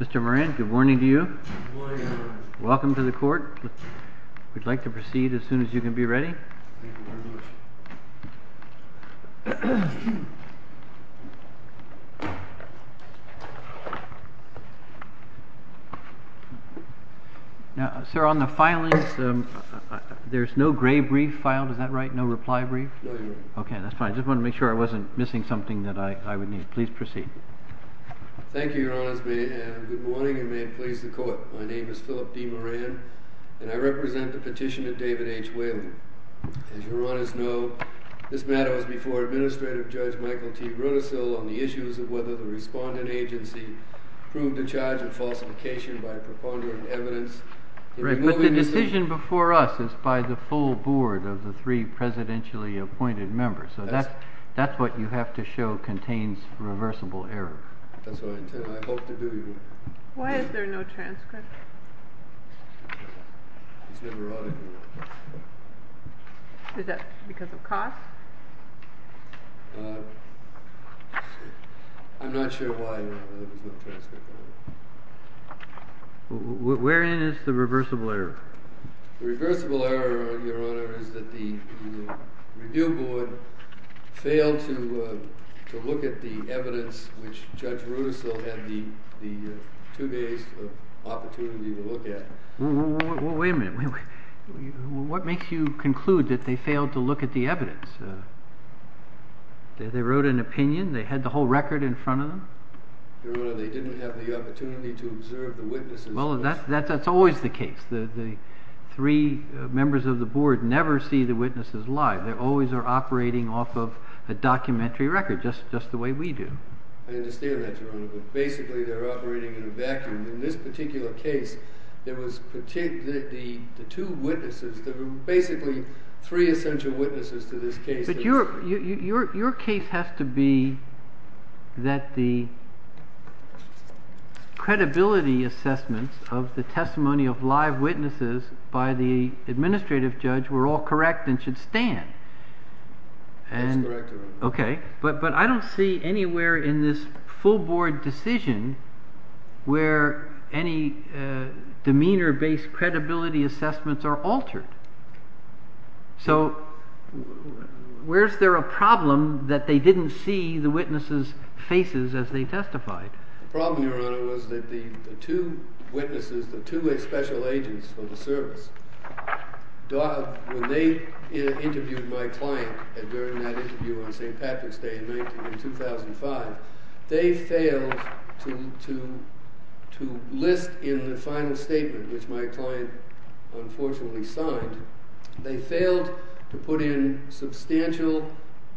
Mr. Moran good morning to you. Welcome to the court. We'd like to proceed as soon as you can be ready. Now, sir, on the filings, there's no gray brief filed, is that right? No reply brief? No, your honor. Okay, that's fine. I just wanted to make sure I wasn't missing something that I would need. Please proceed. Thank you, your honors. Good morning, and may it please the court. My name is Philip D. Moran, and I represent the petition of David H. Whelan. As your honors know, this matter was before Administrative Judge Michael T. Rudisill on the issues of whether the respondent agency proved the charge of falsification by preponderant evidence. But the decision before us is by the full board of the three presidentially appointed members, so that's what you have to show contains reversible error. That's what I intend, I hope to do, your honor. Why is there no transcript? Is that because of cost? I'm not sure why there's no transcript. Wherein is the reversible error? The reversible error, your honor, is that the review board failed to look at the evidence which Judge Rudisill had the two days of opportunity to look at. Wait a minute. What makes you conclude that they failed to look at the evidence? They wrote an opinion? They had the whole record in front of them? Your honor, they didn't have the opportunity to observe the witnesses. Well, that's always the case. The three members of the board never see the witnesses live. They always are operating off of a documentary record, just the way we do. I understand that, your honor, but basically they're operating in a vacuum. In this particular case, there were basically three essential witnesses to this case. But your case has to be that the credibility assessments of the testimony of live witnesses by the administrative judge were all correct and should stand. That's correct, your honor. Okay. But I don't see anywhere in this full board decision where any demeanor-based credibility assessments are altered. So where's there a problem that they didn't see the witnesses' faces as they testified? The problem, your honor, was that the two witnesses, the two special agents for the service, when they interviewed my client during that interview on St. Patrick's Day in 2005, they failed to list in the final statement, which my client unfortunately signed, they failed to put in substantial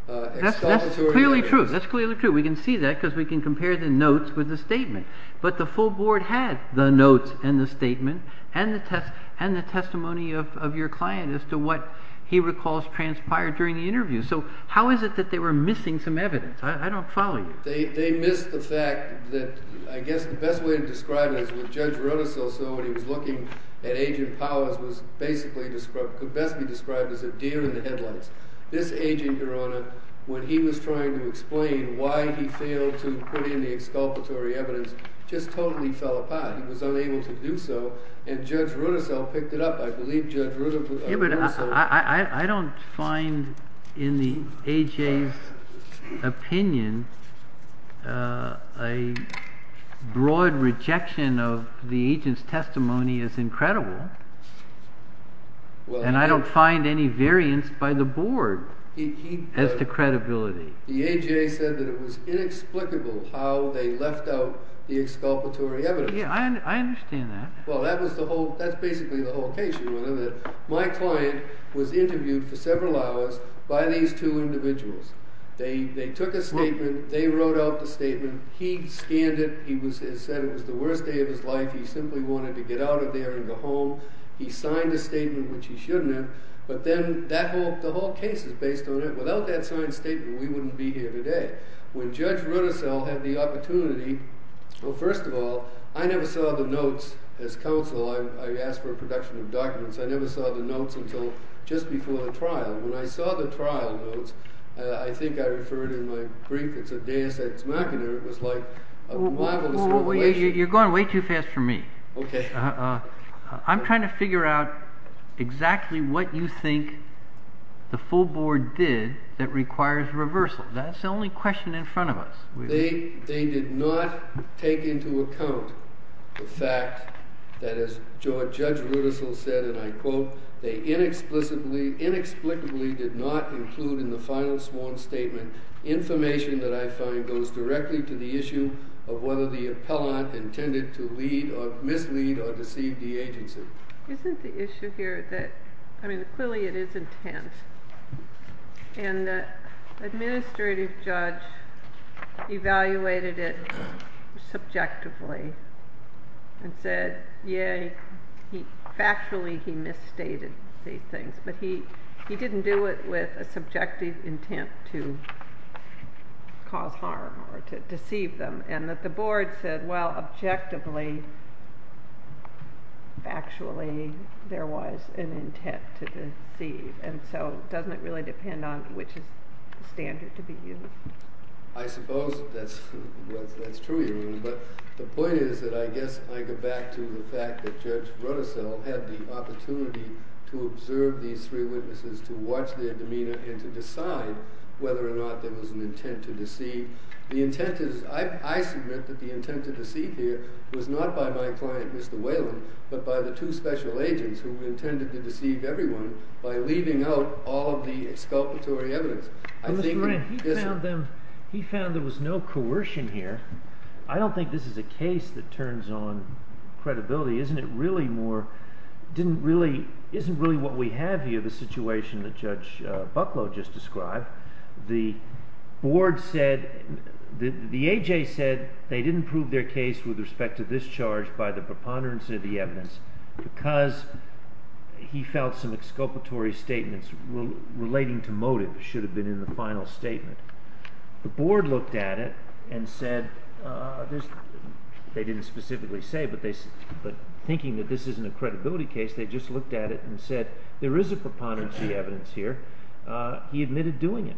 exculpatory evidence. That's clearly true. That's clearly true. We can see that because we can compare the notes with the statement. But the full board had the notes and the statement and the testimony of your client as to what he recalls transpired during the interview. So how is it that they were missing some evidence? I don't follow you. They missed the fact that I guess the best way to describe it is when Judge Rudisill saw what he was looking at, Agent Powers was basically described – could best be described as a deer in the headlights. This agent, your honor, when he was trying to explain why he failed to put in the exculpatory evidence, just totally fell apart. He was unable to do so, and Judge Rudisill picked it up. I believe Judge Rudisill – A broad rejection of the agent's testimony is incredible, and I don't find any variance by the board as to credibility. The A.J. said that it was inexplicable how they left out the exculpatory evidence. Yeah, I understand that. Well, that was the whole – that's basically the whole case, your honor, that my client was interviewed for several hours by these two individuals. They took a statement. They wrote out the statement. He scanned it. He said it was the worst day of his life. He simply wanted to get out of there and go home. He signed a statement, which he shouldn't have. But then that whole – the whole case is based on it. Without that signed statement, we wouldn't be here today. When Judge Rudisill had the opportunity – well, first of all, I never saw the notes as counsel. I asked for a production of documents. I never saw the notes until just before the trial. When I saw the trial notes, I think I referred in my brief, it's a deus ex machina. It was like a rival association. You're going way too fast for me. Okay. I'm trying to figure out exactly what you think the full board did that requires reversal. That's the only question in front of us. They did not take into account the fact that, as Judge Rudisill said, and I quote, they inexplicably did not include in the final sworn statement information that I find goes directly to the issue of whether the appellant intended to lead or mislead or deceive the agency. Isn't the issue here that – I mean, clearly it is intense. And the administrative judge evaluated it subjectively and said, yay, factually he misstated these things, but he didn't do it with a subjective intent to cause harm or to deceive them, and that the board said, well, objectively, factually, there was an intent to deceive. And so doesn't it really depend on which standard to be used? I suppose that's true, Your Honor. But the point is that I guess I go back to the fact that Judge Rudisill had the opportunity to observe these three witnesses, to watch their demeanor, and to decide whether or not there was an intent to deceive. The intent is – I submit that the intent to deceive here was not by my client, Mr. Whelan, but by the two special agents who intended to deceive everyone by leaving out all of the exculpatory evidence. I think – Mr. Moran, he found them – he found there was no coercion here. I don't think this is a case that turns on credibility. Isn't it really more – didn't really – isn't really what we have here the situation that Judge Bucklow just described? The board said – the A.J. said they didn't prove their case with respect to this charge by the preponderance of the evidence because he felt some exculpatory statements relating to motive should have been in the final statement. The board looked at it and said – they didn't specifically say, but thinking that this isn't a credibility case, they just looked at it and said there is a preponderance of the evidence here. He admitted doing it.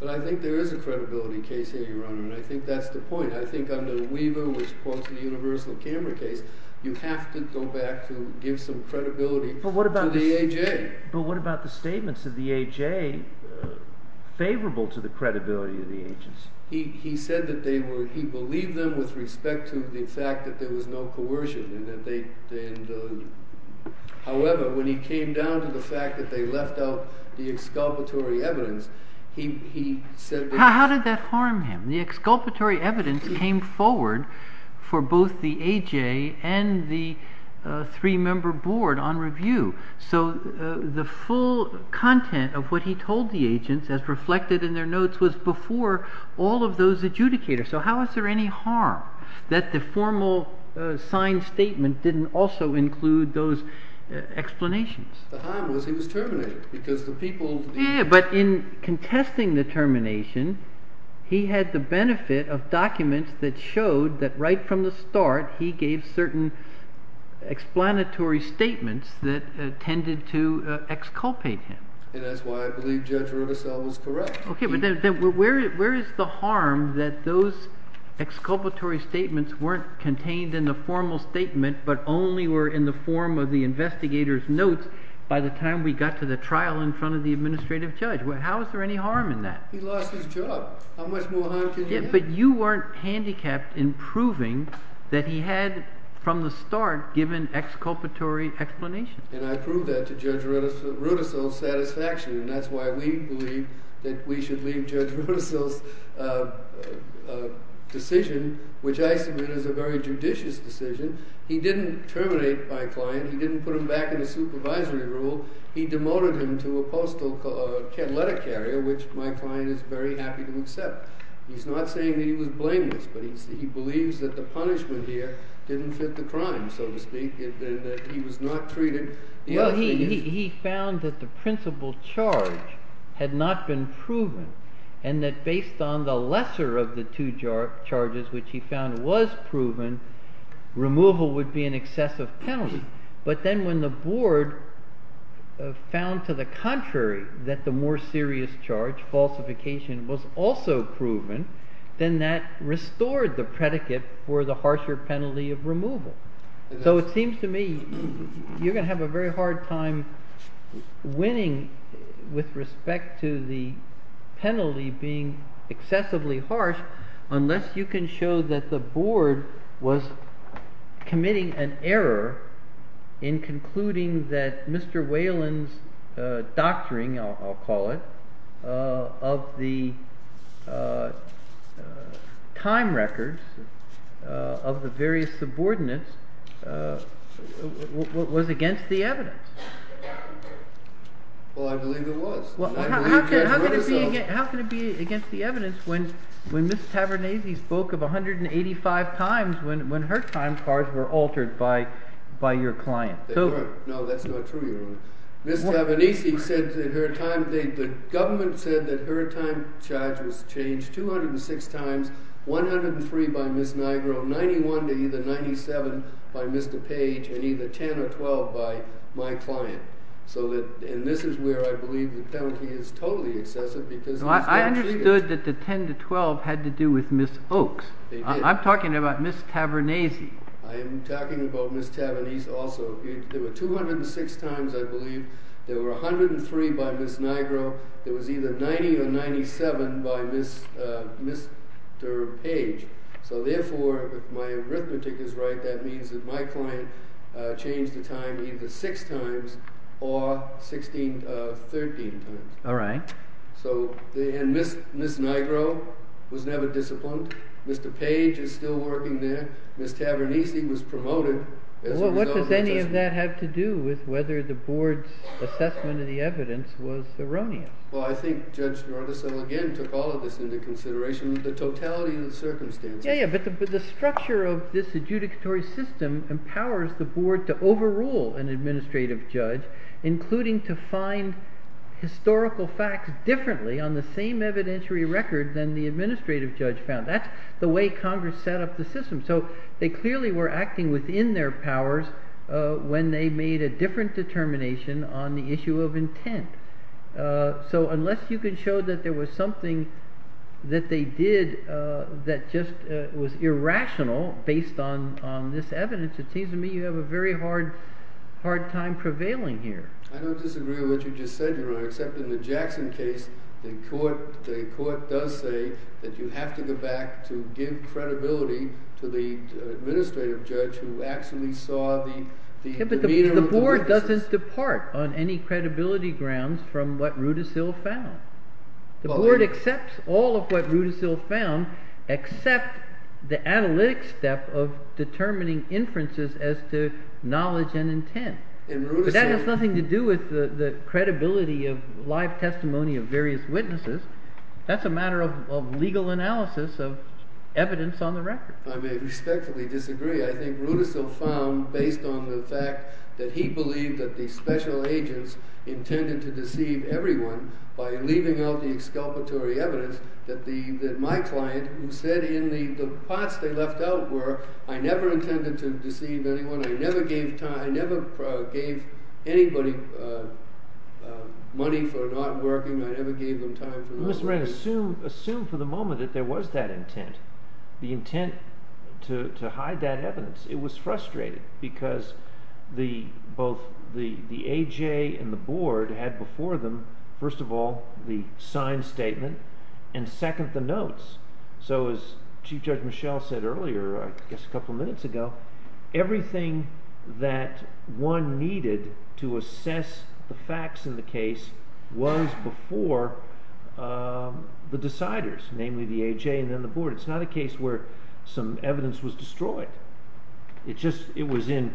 But I think there is a credibility case here, Your Honor, and I think that's the point. I think under Weaver, which quotes the universal camera case, you have to go back to give some credibility to the A.J. But what about the statements of the A.J. favorable to the credibility of the agents? He said that they were – he believed them with respect to the fact that there was no coercion and that they – How did that harm him? The exculpatory evidence came forward for both the A.J. and the three-member board on review. So the full content of what he told the agents as reflected in their notes was before all of those adjudicators. So how is there any harm that the formal signed statement didn't also include those explanations? The harm was he was terminated because the people – But in contesting the termination, he had the benefit of documents that showed that right from the start he gave certain explanatory statements that tended to exculpate him. And that's why I believe Judge Rudisill was correct. Okay. But then where is the harm that those exculpatory statements weren't contained in the formal statement but only were in the form of the investigators' notes by the time we got to the trial in front of the administrative judge? How is there any harm in that? He lost his job. How much more harm can he have? But you weren't handicapped in proving that he had from the start given exculpatory explanations. And I prove that to Judge Rudisill's satisfaction, and that's why we believe that we should leave Judge Rudisill's decision, which I submit is a very judicious decision. He didn't terminate my client. He didn't put him back in the supervisory role. He demoted him to a postal – a letter carrier, which my client is very happy to accept. He's not saying that he was blameless, but he believes that the punishment here didn't fit the crime, so to speak, and that he was not treated – Well, he found that the principal charge had not been proven and that based on the lesser of the two charges, which he found was proven, removal would be an excessive penalty. But then when the board found to the contrary that the more serious charge, falsification, was also proven, then that restored the predicate for the harsher penalty of removal. So it seems to me you're going to have a very hard time winning with respect to the penalty being excessively harsh unless you can show that the board was committing an error in concluding that Mr. Whelan's doctoring, I'll call it, of the time records of the various subordinates was against the evidence. Well, I believe it was. How can it be against the evidence when Ms. Tavernese spoke of 185 times when her time cards were altered by your client? No, that's not true, Your Honor. Ms. Tavernese said that her time – the government said that her time charge was changed 206 times, 103 by Ms. Nigro, 91 to either 97 by Mr. Page, and either 10 or 12 by my client. So that – and this is where I believe the penalty is totally excessive because – No, I understood that the 10 to 12 had to do with Ms. Oakes. They did. I'm talking about Ms. Tavernese. I am talking about Ms. Tavernese also. There were 206 times, I believe. There were 103 by Ms. Nigro. There was either 90 or 97 by Ms. Page. So therefore, if my arithmetic is right, that means that my client changed the time either 6 times or 13 times. All right. So – and Ms. Nigro was never disciplined. Mr. Page is still working there. Ms. Tavernese was promoted as a result of that judgment. Well, what does any of that have to do with whether the board's assessment of the evidence was erroneous? Well, I think Judge Nordesel again took all of this into consideration with the totality of the circumstances. Yeah, yeah, but the structure of this adjudicatory system empowers the board to overrule an administrative judge, including to find historical facts differently on the same evidentiary record than the administrative judge found. That's the way Congress set up the system. So they clearly were acting within their powers when they made a different determination on the issue of intent. So unless you can show that there was something that they did that just was irrational based on this evidence, it seems to me you have a very hard time prevailing here. I don't disagree with what you just said, Your Honor, except in the Jackson case, the court does say that you have to go back to give credibility to the administrative judge who actually saw the demeanor of Congress. The board doesn't depart on any credibility grounds from what Rudisill found. The board accepts all of what Rudisill found except the analytic step of determining inferences as to knowledge and intent. But that has nothing to do with the credibility of live testimony of various witnesses. That's a matter of legal analysis of evidence on the record. I may respectfully disagree. I think Rudisill found, based on the fact that he believed that the special agents intended to deceive everyone by leaving out the exculpatory evidence, that my client, who said in the pots they left out were, I never intended to deceive anyone. I never gave anybody money for not working. Mr. Moran, assume for the moment that there was that intent, the intent to hide that evidence. It was frustrated because both the A.J. and the board had before them, first of all, the signed statement and second, the notes. So as Chief Judge Michel said earlier, I guess a couple minutes ago, everything that one needed to assess the facts in the case was before the deciders, namely the A.J. and then the board. It's not a case where some evidence was destroyed. It just, it was in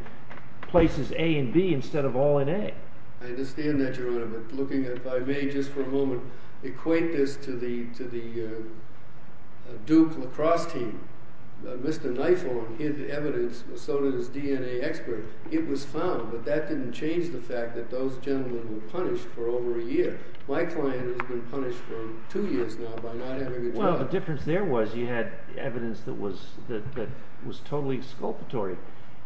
places A and B instead of all in A. I understand that, Your Honor, but looking at, if I may just for a moment, equate this to the Duke lacrosse team. Mr. Niefold, his evidence, so did his DNA expert. It was found, but that didn't change the fact that those gentlemen were punished for over a year. My client has been punished for two years now by not having a job. Well, the difference there was you had evidence that was totally exculpatory.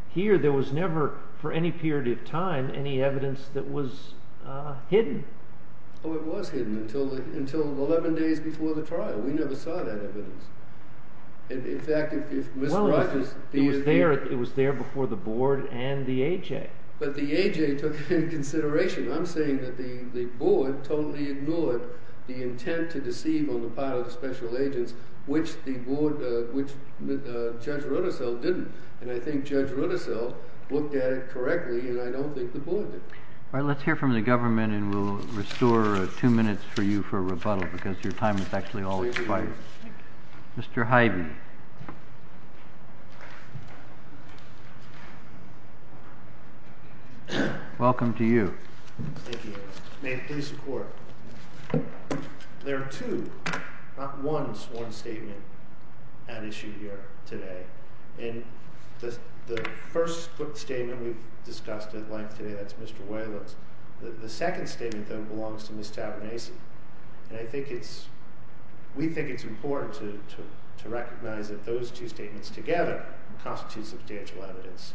Here, there was never, for any period of time, any evidence that was hidden. Oh, it was hidden until 11 days before the trial. We never saw that evidence. In fact, if Mr. Rogers… Well, it was there before the board and the A.J. But the A.J. took it into consideration. I'm saying that the board totally ignored the intent to deceive on the part of the special agents, which the board, which Judge Rotorcell didn't. And I think Judge Rotorcell looked at it correctly, and I don't think the board did. All right, let's hear from the government, and we'll restore two minutes for you for rebuttal because your time is actually all expired. Thank you. Mr. Hyde. Welcome to you. Thank you. May it please the Court. There are two, not one sworn statement at issue here today. And the first statement we've discussed at length today, that's Mr. Whalen's. The second statement, though, belongs to Ms. Tabernasi. And I think it's – we think it's important to recognize that those two statements together constitute substantial evidence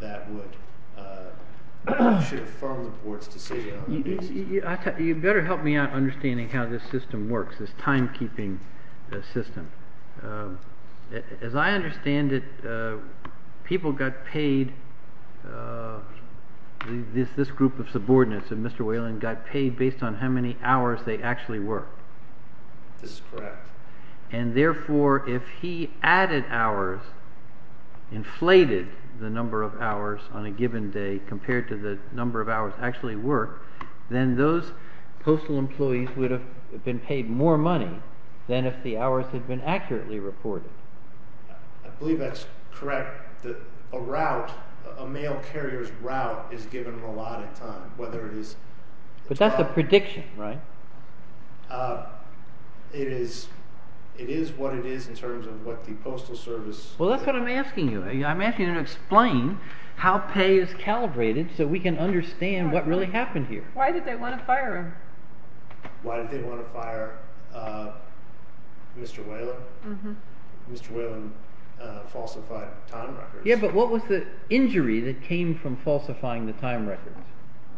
that would – should affirm the board's decision. You better help me out understanding how this system works, this timekeeping system. As I understand it, people got paid – this group of subordinates of Mr. Whalen got paid based on how many hours they actually worked. This is correct. And therefore, if he added hours, inflated the number of hours on a given day compared to the number of hours actually worked, then those postal employees would have been paid more money than if the hours had been accurately reported. I believe that's correct, that a route, a mail carrier's route is given a lot of time, whether it is – But that's a prediction, right? It is what it is in terms of what the postal service – Well, that's what I'm asking you. I'm asking you to explain how pay is calibrated so we can understand what really happened here. Why did they want to fire him? Why did they want to fire Mr. Whalen? Mr. Whalen falsified time records. Yeah, but what was the injury that came from falsifying the time records?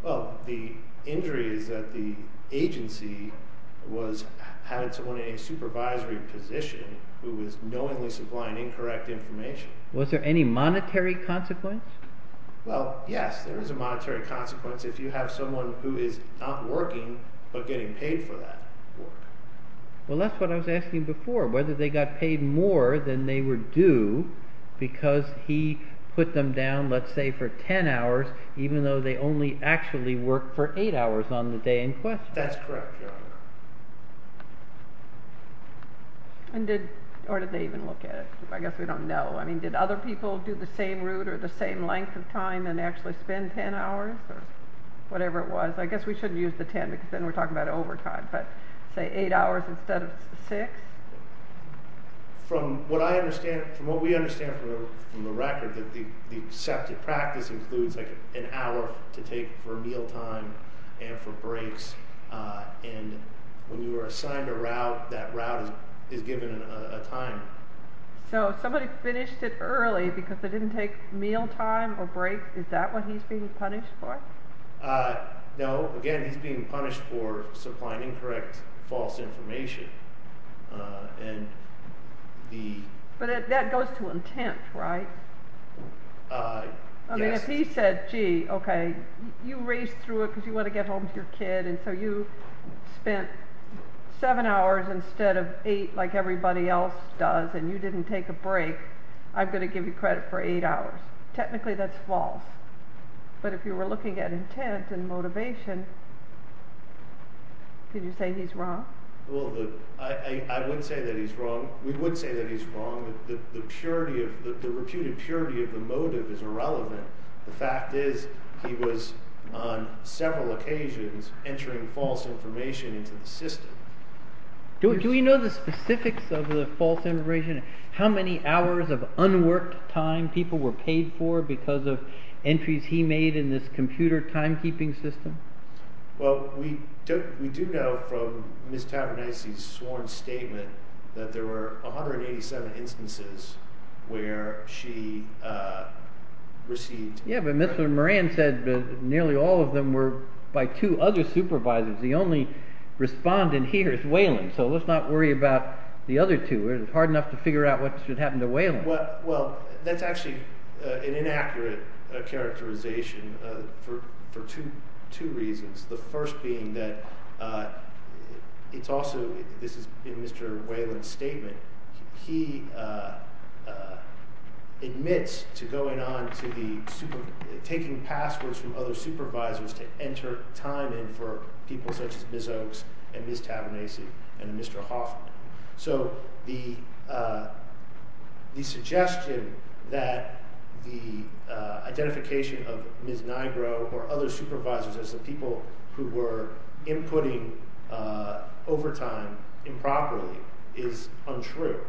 Well, the injury is that the agency was having someone in a supervisory position who was knowingly supplying incorrect information. Was there any monetary consequence? Well, yes, there is a monetary consequence if you have someone who is not working but getting paid for that work. Well, that's what I was asking before, whether they got paid more than they were due because he put them down, let's say, for 10 hours, even though they only actually worked for 8 hours on the day in question. That's correct. And did – or did they even look at it? I guess we don't know. I mean, did other people do the same route or the same length of time and actually spend 10 hours or whatever it was? I guess we shouldn't use the 10 because then we're talking about overtime, but say 8 hours instead of 6? From what I understand – from what we understand from the record, the accepted practice includes like an hour to take for mealtime and for breaks. And when you are assigned a route, that route is given a time. So somebody finished it early because they didn't take mealtime or break? Is that what he's being punished for? No. Again, he's being punished for supplying incorrect, false information. But that goes to intent, right? Yes. I mean, if he said, gee, okay, you raced through it because you want to get home to your kid and so you spent 7 hours instead of 8 like everybody else does and you didn't take a break, I'm going to give you credit for 8 hours. Technically that's false. But if you were looking at intent and motivation, could you say he's wrong? Well, I would say that he's wrong. We would say that he's wrong. The reputed purity of the motive is irrelevant. The fact is he was on several occasions entering false information into the system. Do we know the specifics of the false information? How many hours of unworked time people were paid for because of entries he made in this computer timekeeping system? Well, we do know from Ms. Tabernasi's sworn statement that there were 187 instances where she received... Yeah, but Mr. Moran said nearly all of them were by two other supervisors. The only respondent here is Whelan, so let's not worry about the other two. It's hard enough to figure out what should happen to Whelan. Well, that's actually an inaccurate characterization for two reasons. The first being that it's also, this is in Mr. Whelan's statement, he admits to going on to taking passwords from other supervisors to enter time in for people such as Ms. Oaks and Ms. Tabernasi and Mr. Hoffman. So the suggestion that the identification of Ms. Nigro or other supervisors as the people who were inputting overtime improperly is untrue.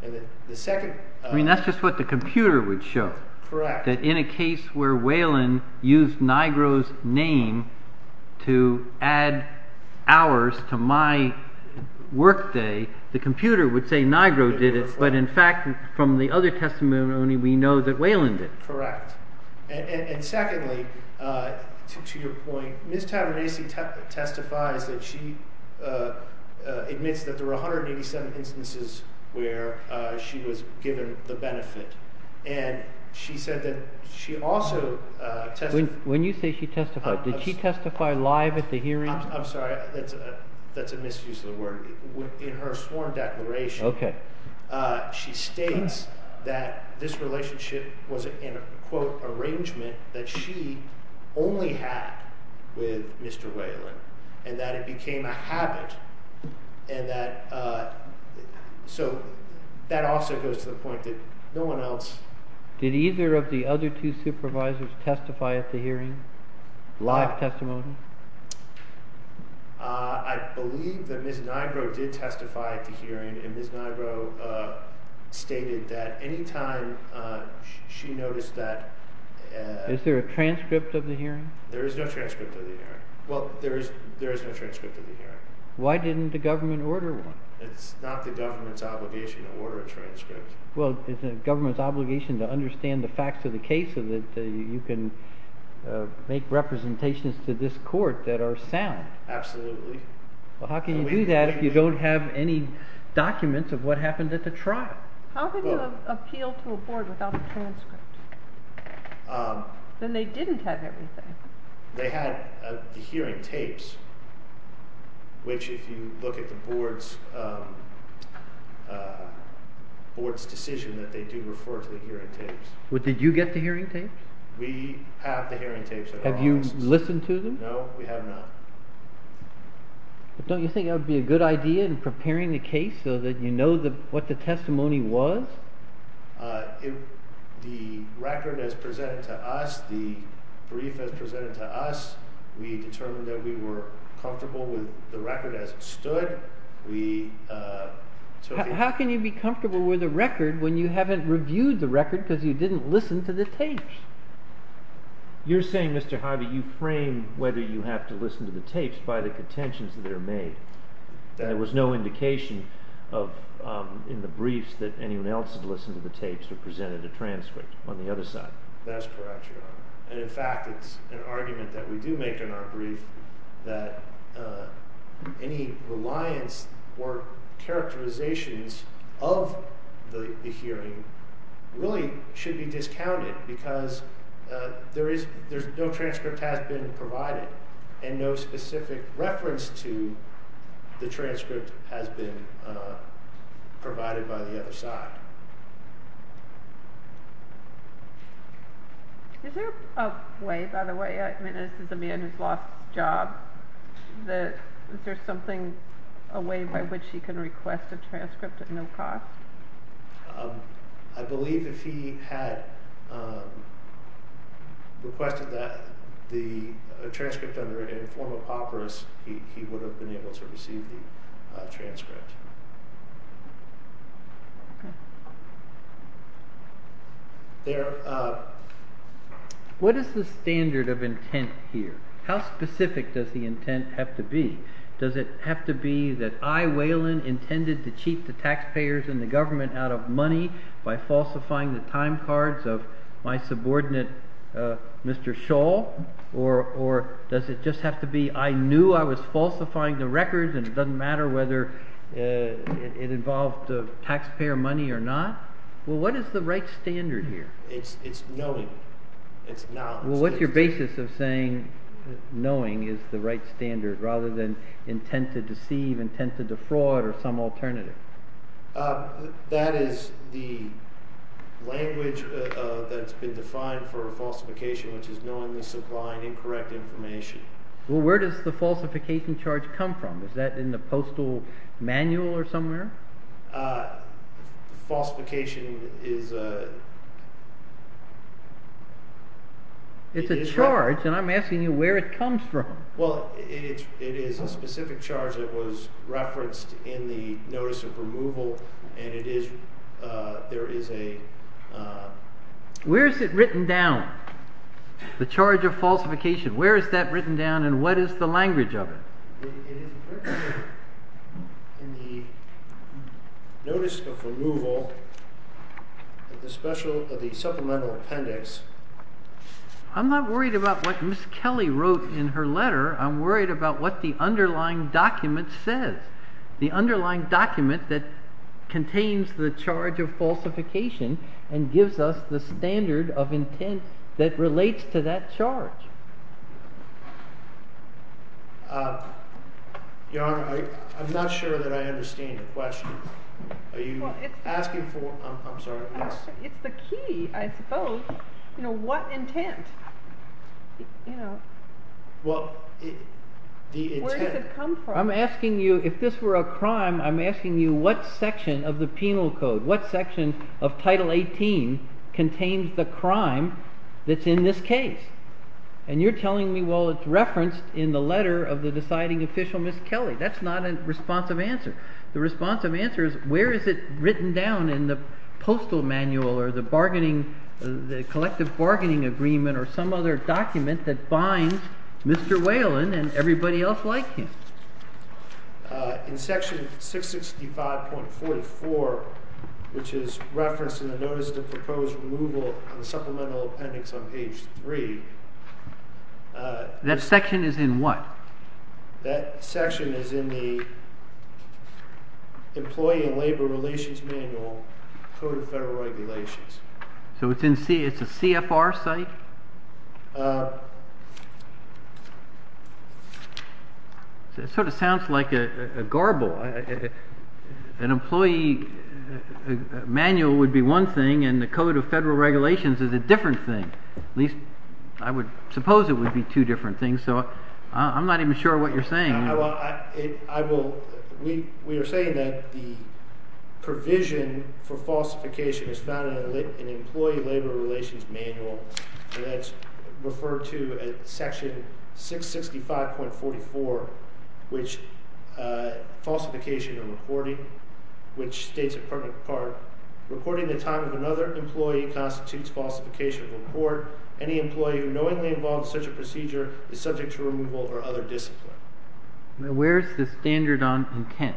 I mean, that's just what the computer would show, that in a case where Whelan used Nigro's name to add hours to my workday, the computer would say Nigro did it, but in fact, from the other testimony, we know that Whelan did. And secondly, to your point, Ms. Tabernasi testifies that she admits that there were 187 instances where she was given the benefit, and she said that she also testified... When you say she testified, did she testify live at the hearing? I'm sorry, that's a misuse of the word. In her sworn declaration, she states that this relationship was an, quote, arrangement that she only had with Mr. Whelan, and that it became a habit, and that, so that also goes to the point that no one else... Did either of the other two supervisors testify at the hearing, live testimony? I believe that Ms. Nigro did testify at the hearing, and Ms. Nigro stated that any time she noticed that... Is there a transcript of the hearing? There is no transcript of the hearing. Well, there is no transcript of the hearing. Why didn't the government order one? It's not the government's obligation to order a transcript. Well, it's the government's obligation to understand the facts of the case so that you can make representations to this court that are sound. Absolutely. Well, how can you do that if you don't have any documents of what happened at the trial? How can you appeal to a board without a transcript? Then they didn't have everything. They had the hearing tapes, which if you look at the board's decision, that they do refer to the hearing tapes. Did you get the hearing tapes? We have the hearing tapes at our offices. Have you listened to them? No, we have not. Don't you think it would be a good idea in preparing the case so that you know what the testimony was? The record is presented to us. The brief is presented to us. We determined that we were comfortable with the record as it stood. How can you be comfortable with a record when you haven't reviewed the record because you didn't listen to the tapes? You're saying, Mr. Harvey, you frame whether you have to listen to the tapes by the contentions that are made. There was no indication in the briefs that anyone else had listened to the tapes or presented a transcript on the other side. That's correct, Your Honor. In fact, it's an argument that we do make in our brief that any reliance or characterizations of the hearing really should be discounted because no transcript has been provided and no specific reference to the transcript has been provided by the other side. Is there a way, by the way, this is a man who has lost his job. Is there something, a way by which he can request a transcript at no cost? I believe if he had requested the transcript in the form of papyrus, he would have been able to receive the transcript. What is the standard of intent here? How specific does the intent have to be? Does it have to be that I, Whelan, intended to cheat the taxpayers and the government out of money by falsifying the time cards of my subordinate, Mr. Shaw? Or does it just have to be I knew I was falsifying the records and it doesn't matter whether it involved taxpayer money or not? Well, what is the right standard here? It's knowing. It's knowledge. Well, what's your basis of saying knowing is the right standard rather than intent to deceive, intent to defraud, or some alternative? That is the language that's been defined for falsification, which is knowingly supplying incorrect information. Well, where does the falsification charge come from? Is that in the postal manual or somewhere? Falsification is a... It's a charge, and I'm asking you where it comes from. Well, it is a specific charge that was referenced in the notice of removal, and it is, there is a... Where is it written down, the charge of falsification? Where is that written down and what is the language of it? It is written in the notice of removal of the supplemental appendix. I'm not worried about what Ms. Kelly wrote in her letter. I'm worried about what the underlying document says. The underlying document that contains the charge of falsification and gives us the standard of intent that relates to that charge. Your Honor, I'm not sure that I understand your question. Are you asking for... I'm sorry. It's the key, I suppose. You know, what intent? Well, the intent... Where does it come from? I'm asking you, if this were a crime, I'm asking you what section of the penal code, what section of Title 18 contains the crime that's in this case? And you're telling me, well, it's referenced in the letter of the deciding official, Ms. Kelly. That's not a responsive answer. The responsive answer is, where is it written down in the postal manual or the bargaining, the collective bargaining agreement or some other document that binds Mr. Whalen and everybody else like him? In section 665.44, which is referenced in the Notice of Proposed Removal of the Supplemental Appendix on page 3... That section is in what? That section is in the Employee and Labor Relations Manual, Code of Federal Regulations. So it's a CFR site? It sort of sounds like a garble. An employee manual would be one thing, and the Code of Federal Regulations is a different thing. At least I would suppose it would be two different things, so I'm not even sure what you're saying. We are saying that the provision for falsification is found in the Employee and Labor Relations Manual, and that's referred to as section 665.44, which falsification and reporting, which states in part, reporting the time of another employee constitutes falsification of a report. Any employee who knowingly involves such a procedure is subject to removal or other discipline. Now, where is the standard on intent?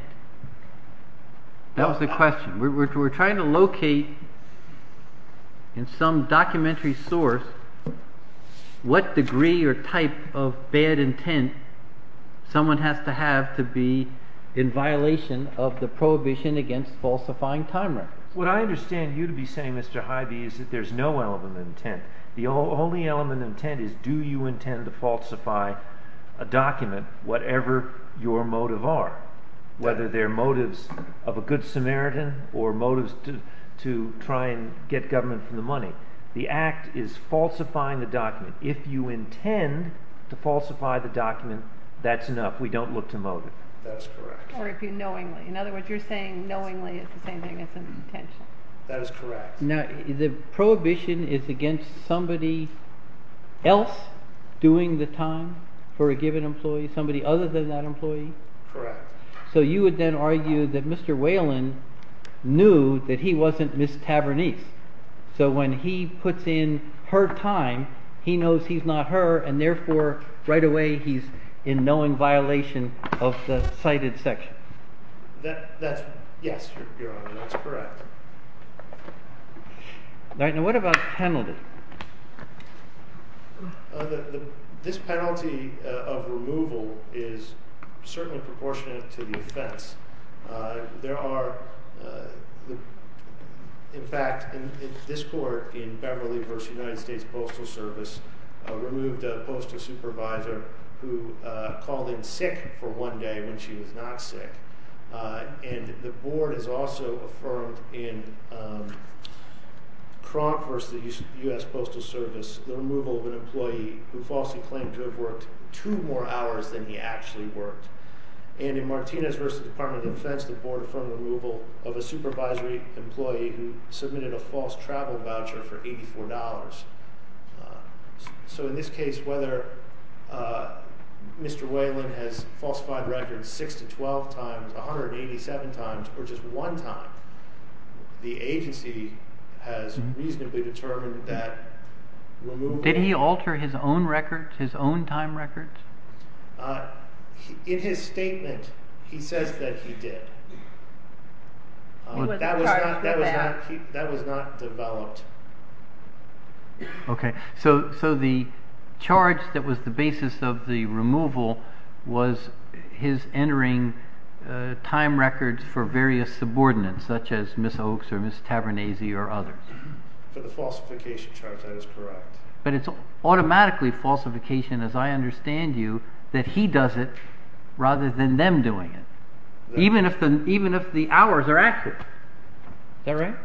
That was the question. We're trying to locate in some documentary source what degree or type of bad intent someone has to have to be in violation of the prohibition against falsifying time records. What I understand you to be saying, Mr. Hybee, is that there's no element of intent. The only element of intent is do you intend to falsify a document, whatever your motive are, whether they're motives of a good Samaritan or motives to try and get government for the money. The Act is falsifying the document. If you intend to falsify the document, that's enough. We don't look to motive. That's correct. Or if you knowingly. In other words, you're saying knowingly is the same thing as an intention. That is correct. Now, the prohibition is against somebody else doing the time for a given employee, somebody other than that employee. Correct. So you would then argue that Mr. Whalen knew that he wasn't Miss Tavernese. So when he puts in her time, he knows he's not her. And therefore, right away, he's in knowing violation of the cited section. Yes, Your Honor, that's correct. Now, what about the penalty? This penalty of removal is certainly proportionate to the offense. In fact, this court in Beverly v. United States Postal Service removed a postal supervisor who called in sick for one day when she was not sick. And the board has also affirmed in Cronk v. U.S. Postal Service the removal of an employee who falsely claimed to have worked two more hours than he actually worked. And in Martinez v. Department of Defense, the board affirmed the removal of a supervisory employee who submitted a false travel voucher for $84. So in this case, whether Mr. Whalen has falsified records 6 to 12 times, 187 times, or just one time, the agency has reasonably determined that removal… Did he alter his own records, his own time records? In his statement, he says that he did. That was not developed. Okay, so the charge that was the basis of the removal was his entering time records for various subordinates, such as Ms. Oaks or Ms. Tavernese or others. For the falsification charge, that is correct. But it's automatically falsification, as I understand you, that he does it rather than them doing it, even if the hours are accurate. Is that right?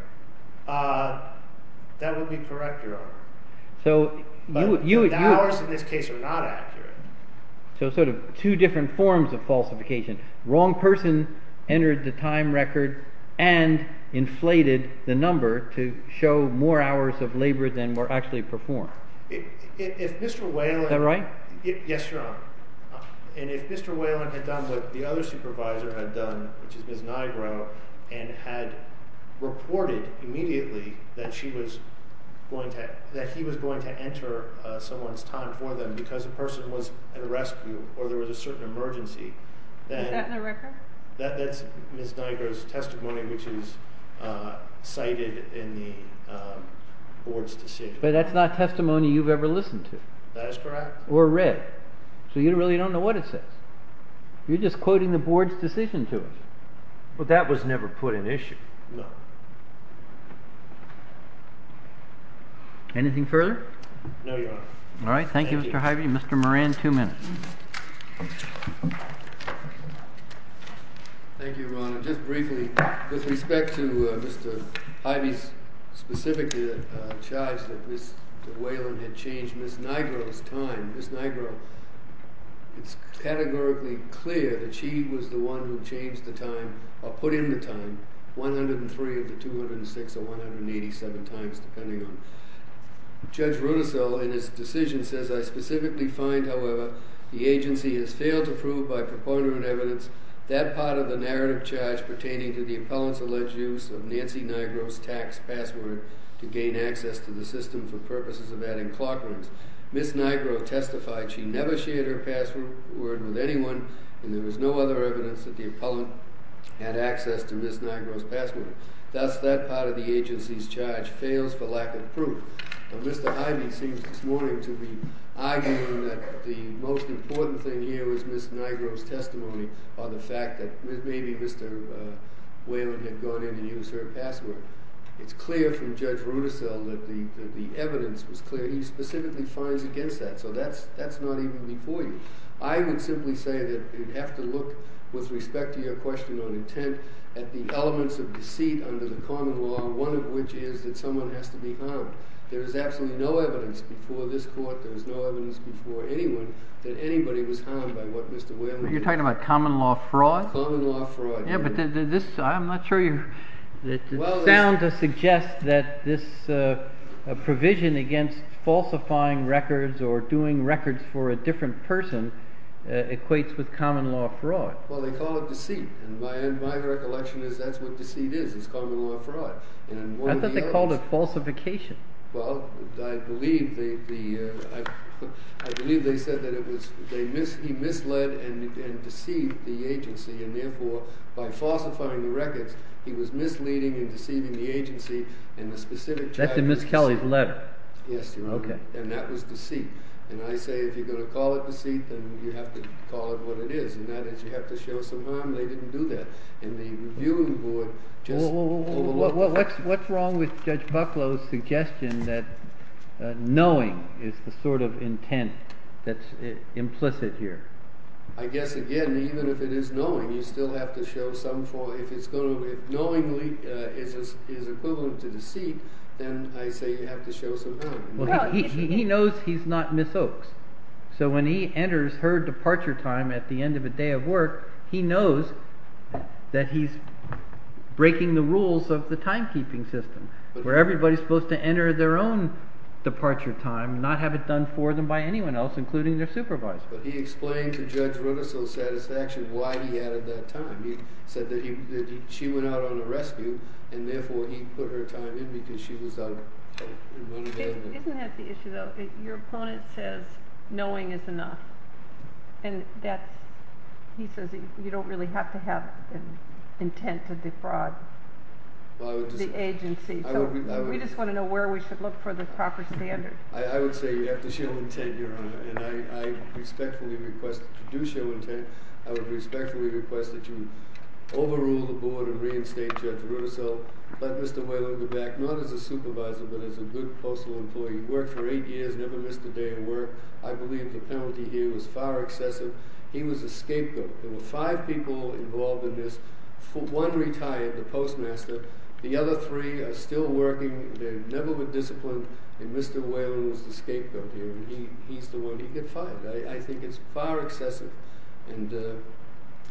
That would be correct, Your Honor. But the hours in this case are not accurate. So sort of two different forms of falsification. Wrong person entered the time record and inflated the number to show more hours of labor than were actually performed. Is that right? Yes, Your Honor. And if Mr. Whalen had done what the other supervisor had done, which is Ms. Nigro, and had reported immediately that he was going to enter someone's time for them because a person was at a rescue or there was a certain emergency, then… Is that in the record? That's Ms. Nigro's testimony, which is cited in the board's decision. But that's not testimony you've ever listened to. That is correct. Or read. So you really don't know what it says. You're just quoting the board's decision to us. But that was never put in issue. No. Anything further? No, Your Honor. All right, thank you, Mr. Hybee. Mr. Moran, two minutes. Thank you, Your Honor. Just briefly, with respect to Mr. Hybee's specific charge that Ms. Whalen had changed Ms. Nigro's time, Ms. Nigro, it's categorically clear that she was the one who changed the time or put in the time, 103 of the 206 or 187 times, depending on… Judge Rudisill, in his decision, says, I specifically find, however, the agency has failed to prove by preponderant evidence that part of the narrative charge pertaining to the appellant's alleged use of Nancy Nigro's tax password to gain access to the system for purposes of adding clock runs. Ms. Nigro testified she never shared her password with anyone and there was no other evidence that the appellant had access to Ms. Nigro's password. Thus, that part of the agency's charge fails for lack of proof. Mr. Hybee seems this morning to be arguing that the most important thing here was Ms. Nigro's testimony on the fact that maybe Mr. Whalen had gone in and used her password. It's clear from Judge Rudisill that the evidence was clear. He specifically finds against that. So that's not even before you. I would simply say that you'd have to look, with respect to your question on intent, at the elements of deceit under the common law, one of which is that someone has to be harmed. There is absolutely no evidence before this court, there is no evidence before anyone, that anybody was harmed by what Mr. Whalen did. You're talking about common law fraud? Common law fraud. Yeah, but this – I'm not sure you – it's sound to suggest that this provision against falsifying records or doing records for a different person equates with common law fraud. Well, they call it deceit, and my recollection is that's what deceit is. It's common law fraud. I thought they called it falsification. Well, I believe they said that he misled and deceived the agency, and therefore, by falsifying the records, he was misleading and deceiving the agency. That's in Ms. Kelly's letter. Yes, and that was deceit. And I say if you're going to call it deceit, then you have to call it what it is, and that is you have to show some harm. They didn't do that. What's wrong with Judge Bucklow's suggestion that knowing is the sort of intent that's implicit here? I guess, again, even if it is knowing, you still have to show some – if knowingly is equivalent to deceit, then I say you have to show some harm. Well, he knows he's not Ms. Oaks, so when he enters her departure time at the end of a day of work, he knows that he's breaking the rules of the timekeeping system, where everybody's supposed to enter their own departure time, not have it done for them by anyone else, including their supervisor. But he explained to Judge Rudder's satisfaction why he added that time. He said that she went out on a rescue, and therefore, he put her time in because she was out of time. Isn't that the issue, though? Your opponent says knowing is enough, and that's – he says you don't really have to have an intent to defraud the agency. We just want to know where we should look for the proper standard. I would say you have to show intent, Your Honor, and I respectfully request that you do show intent. I would respectfully request that you overrule the board and reinstate Judge Rudder. So let Mr. Whalum go back, not as a supervisor, but as a good postal employee. He worked for eight years, never missed a day of work. I believe the penalty here was far excessive. He was a scapegoat. There were five people involved in this. One retired, the postmaster. The other three are still working. They've never been disciplined, and Mr. Whalum was the scapegoat here, and he's the one – he got fired. I think it's far excessive, and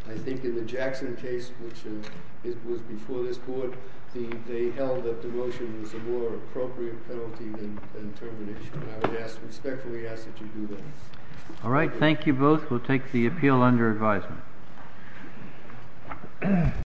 I think in the Jackson case, which was before this court, they held that demotion was a more appropriate penalty than termination, and I would respectfully ask that you do that. All right. Thank you both. We'll take the appeal under advisement.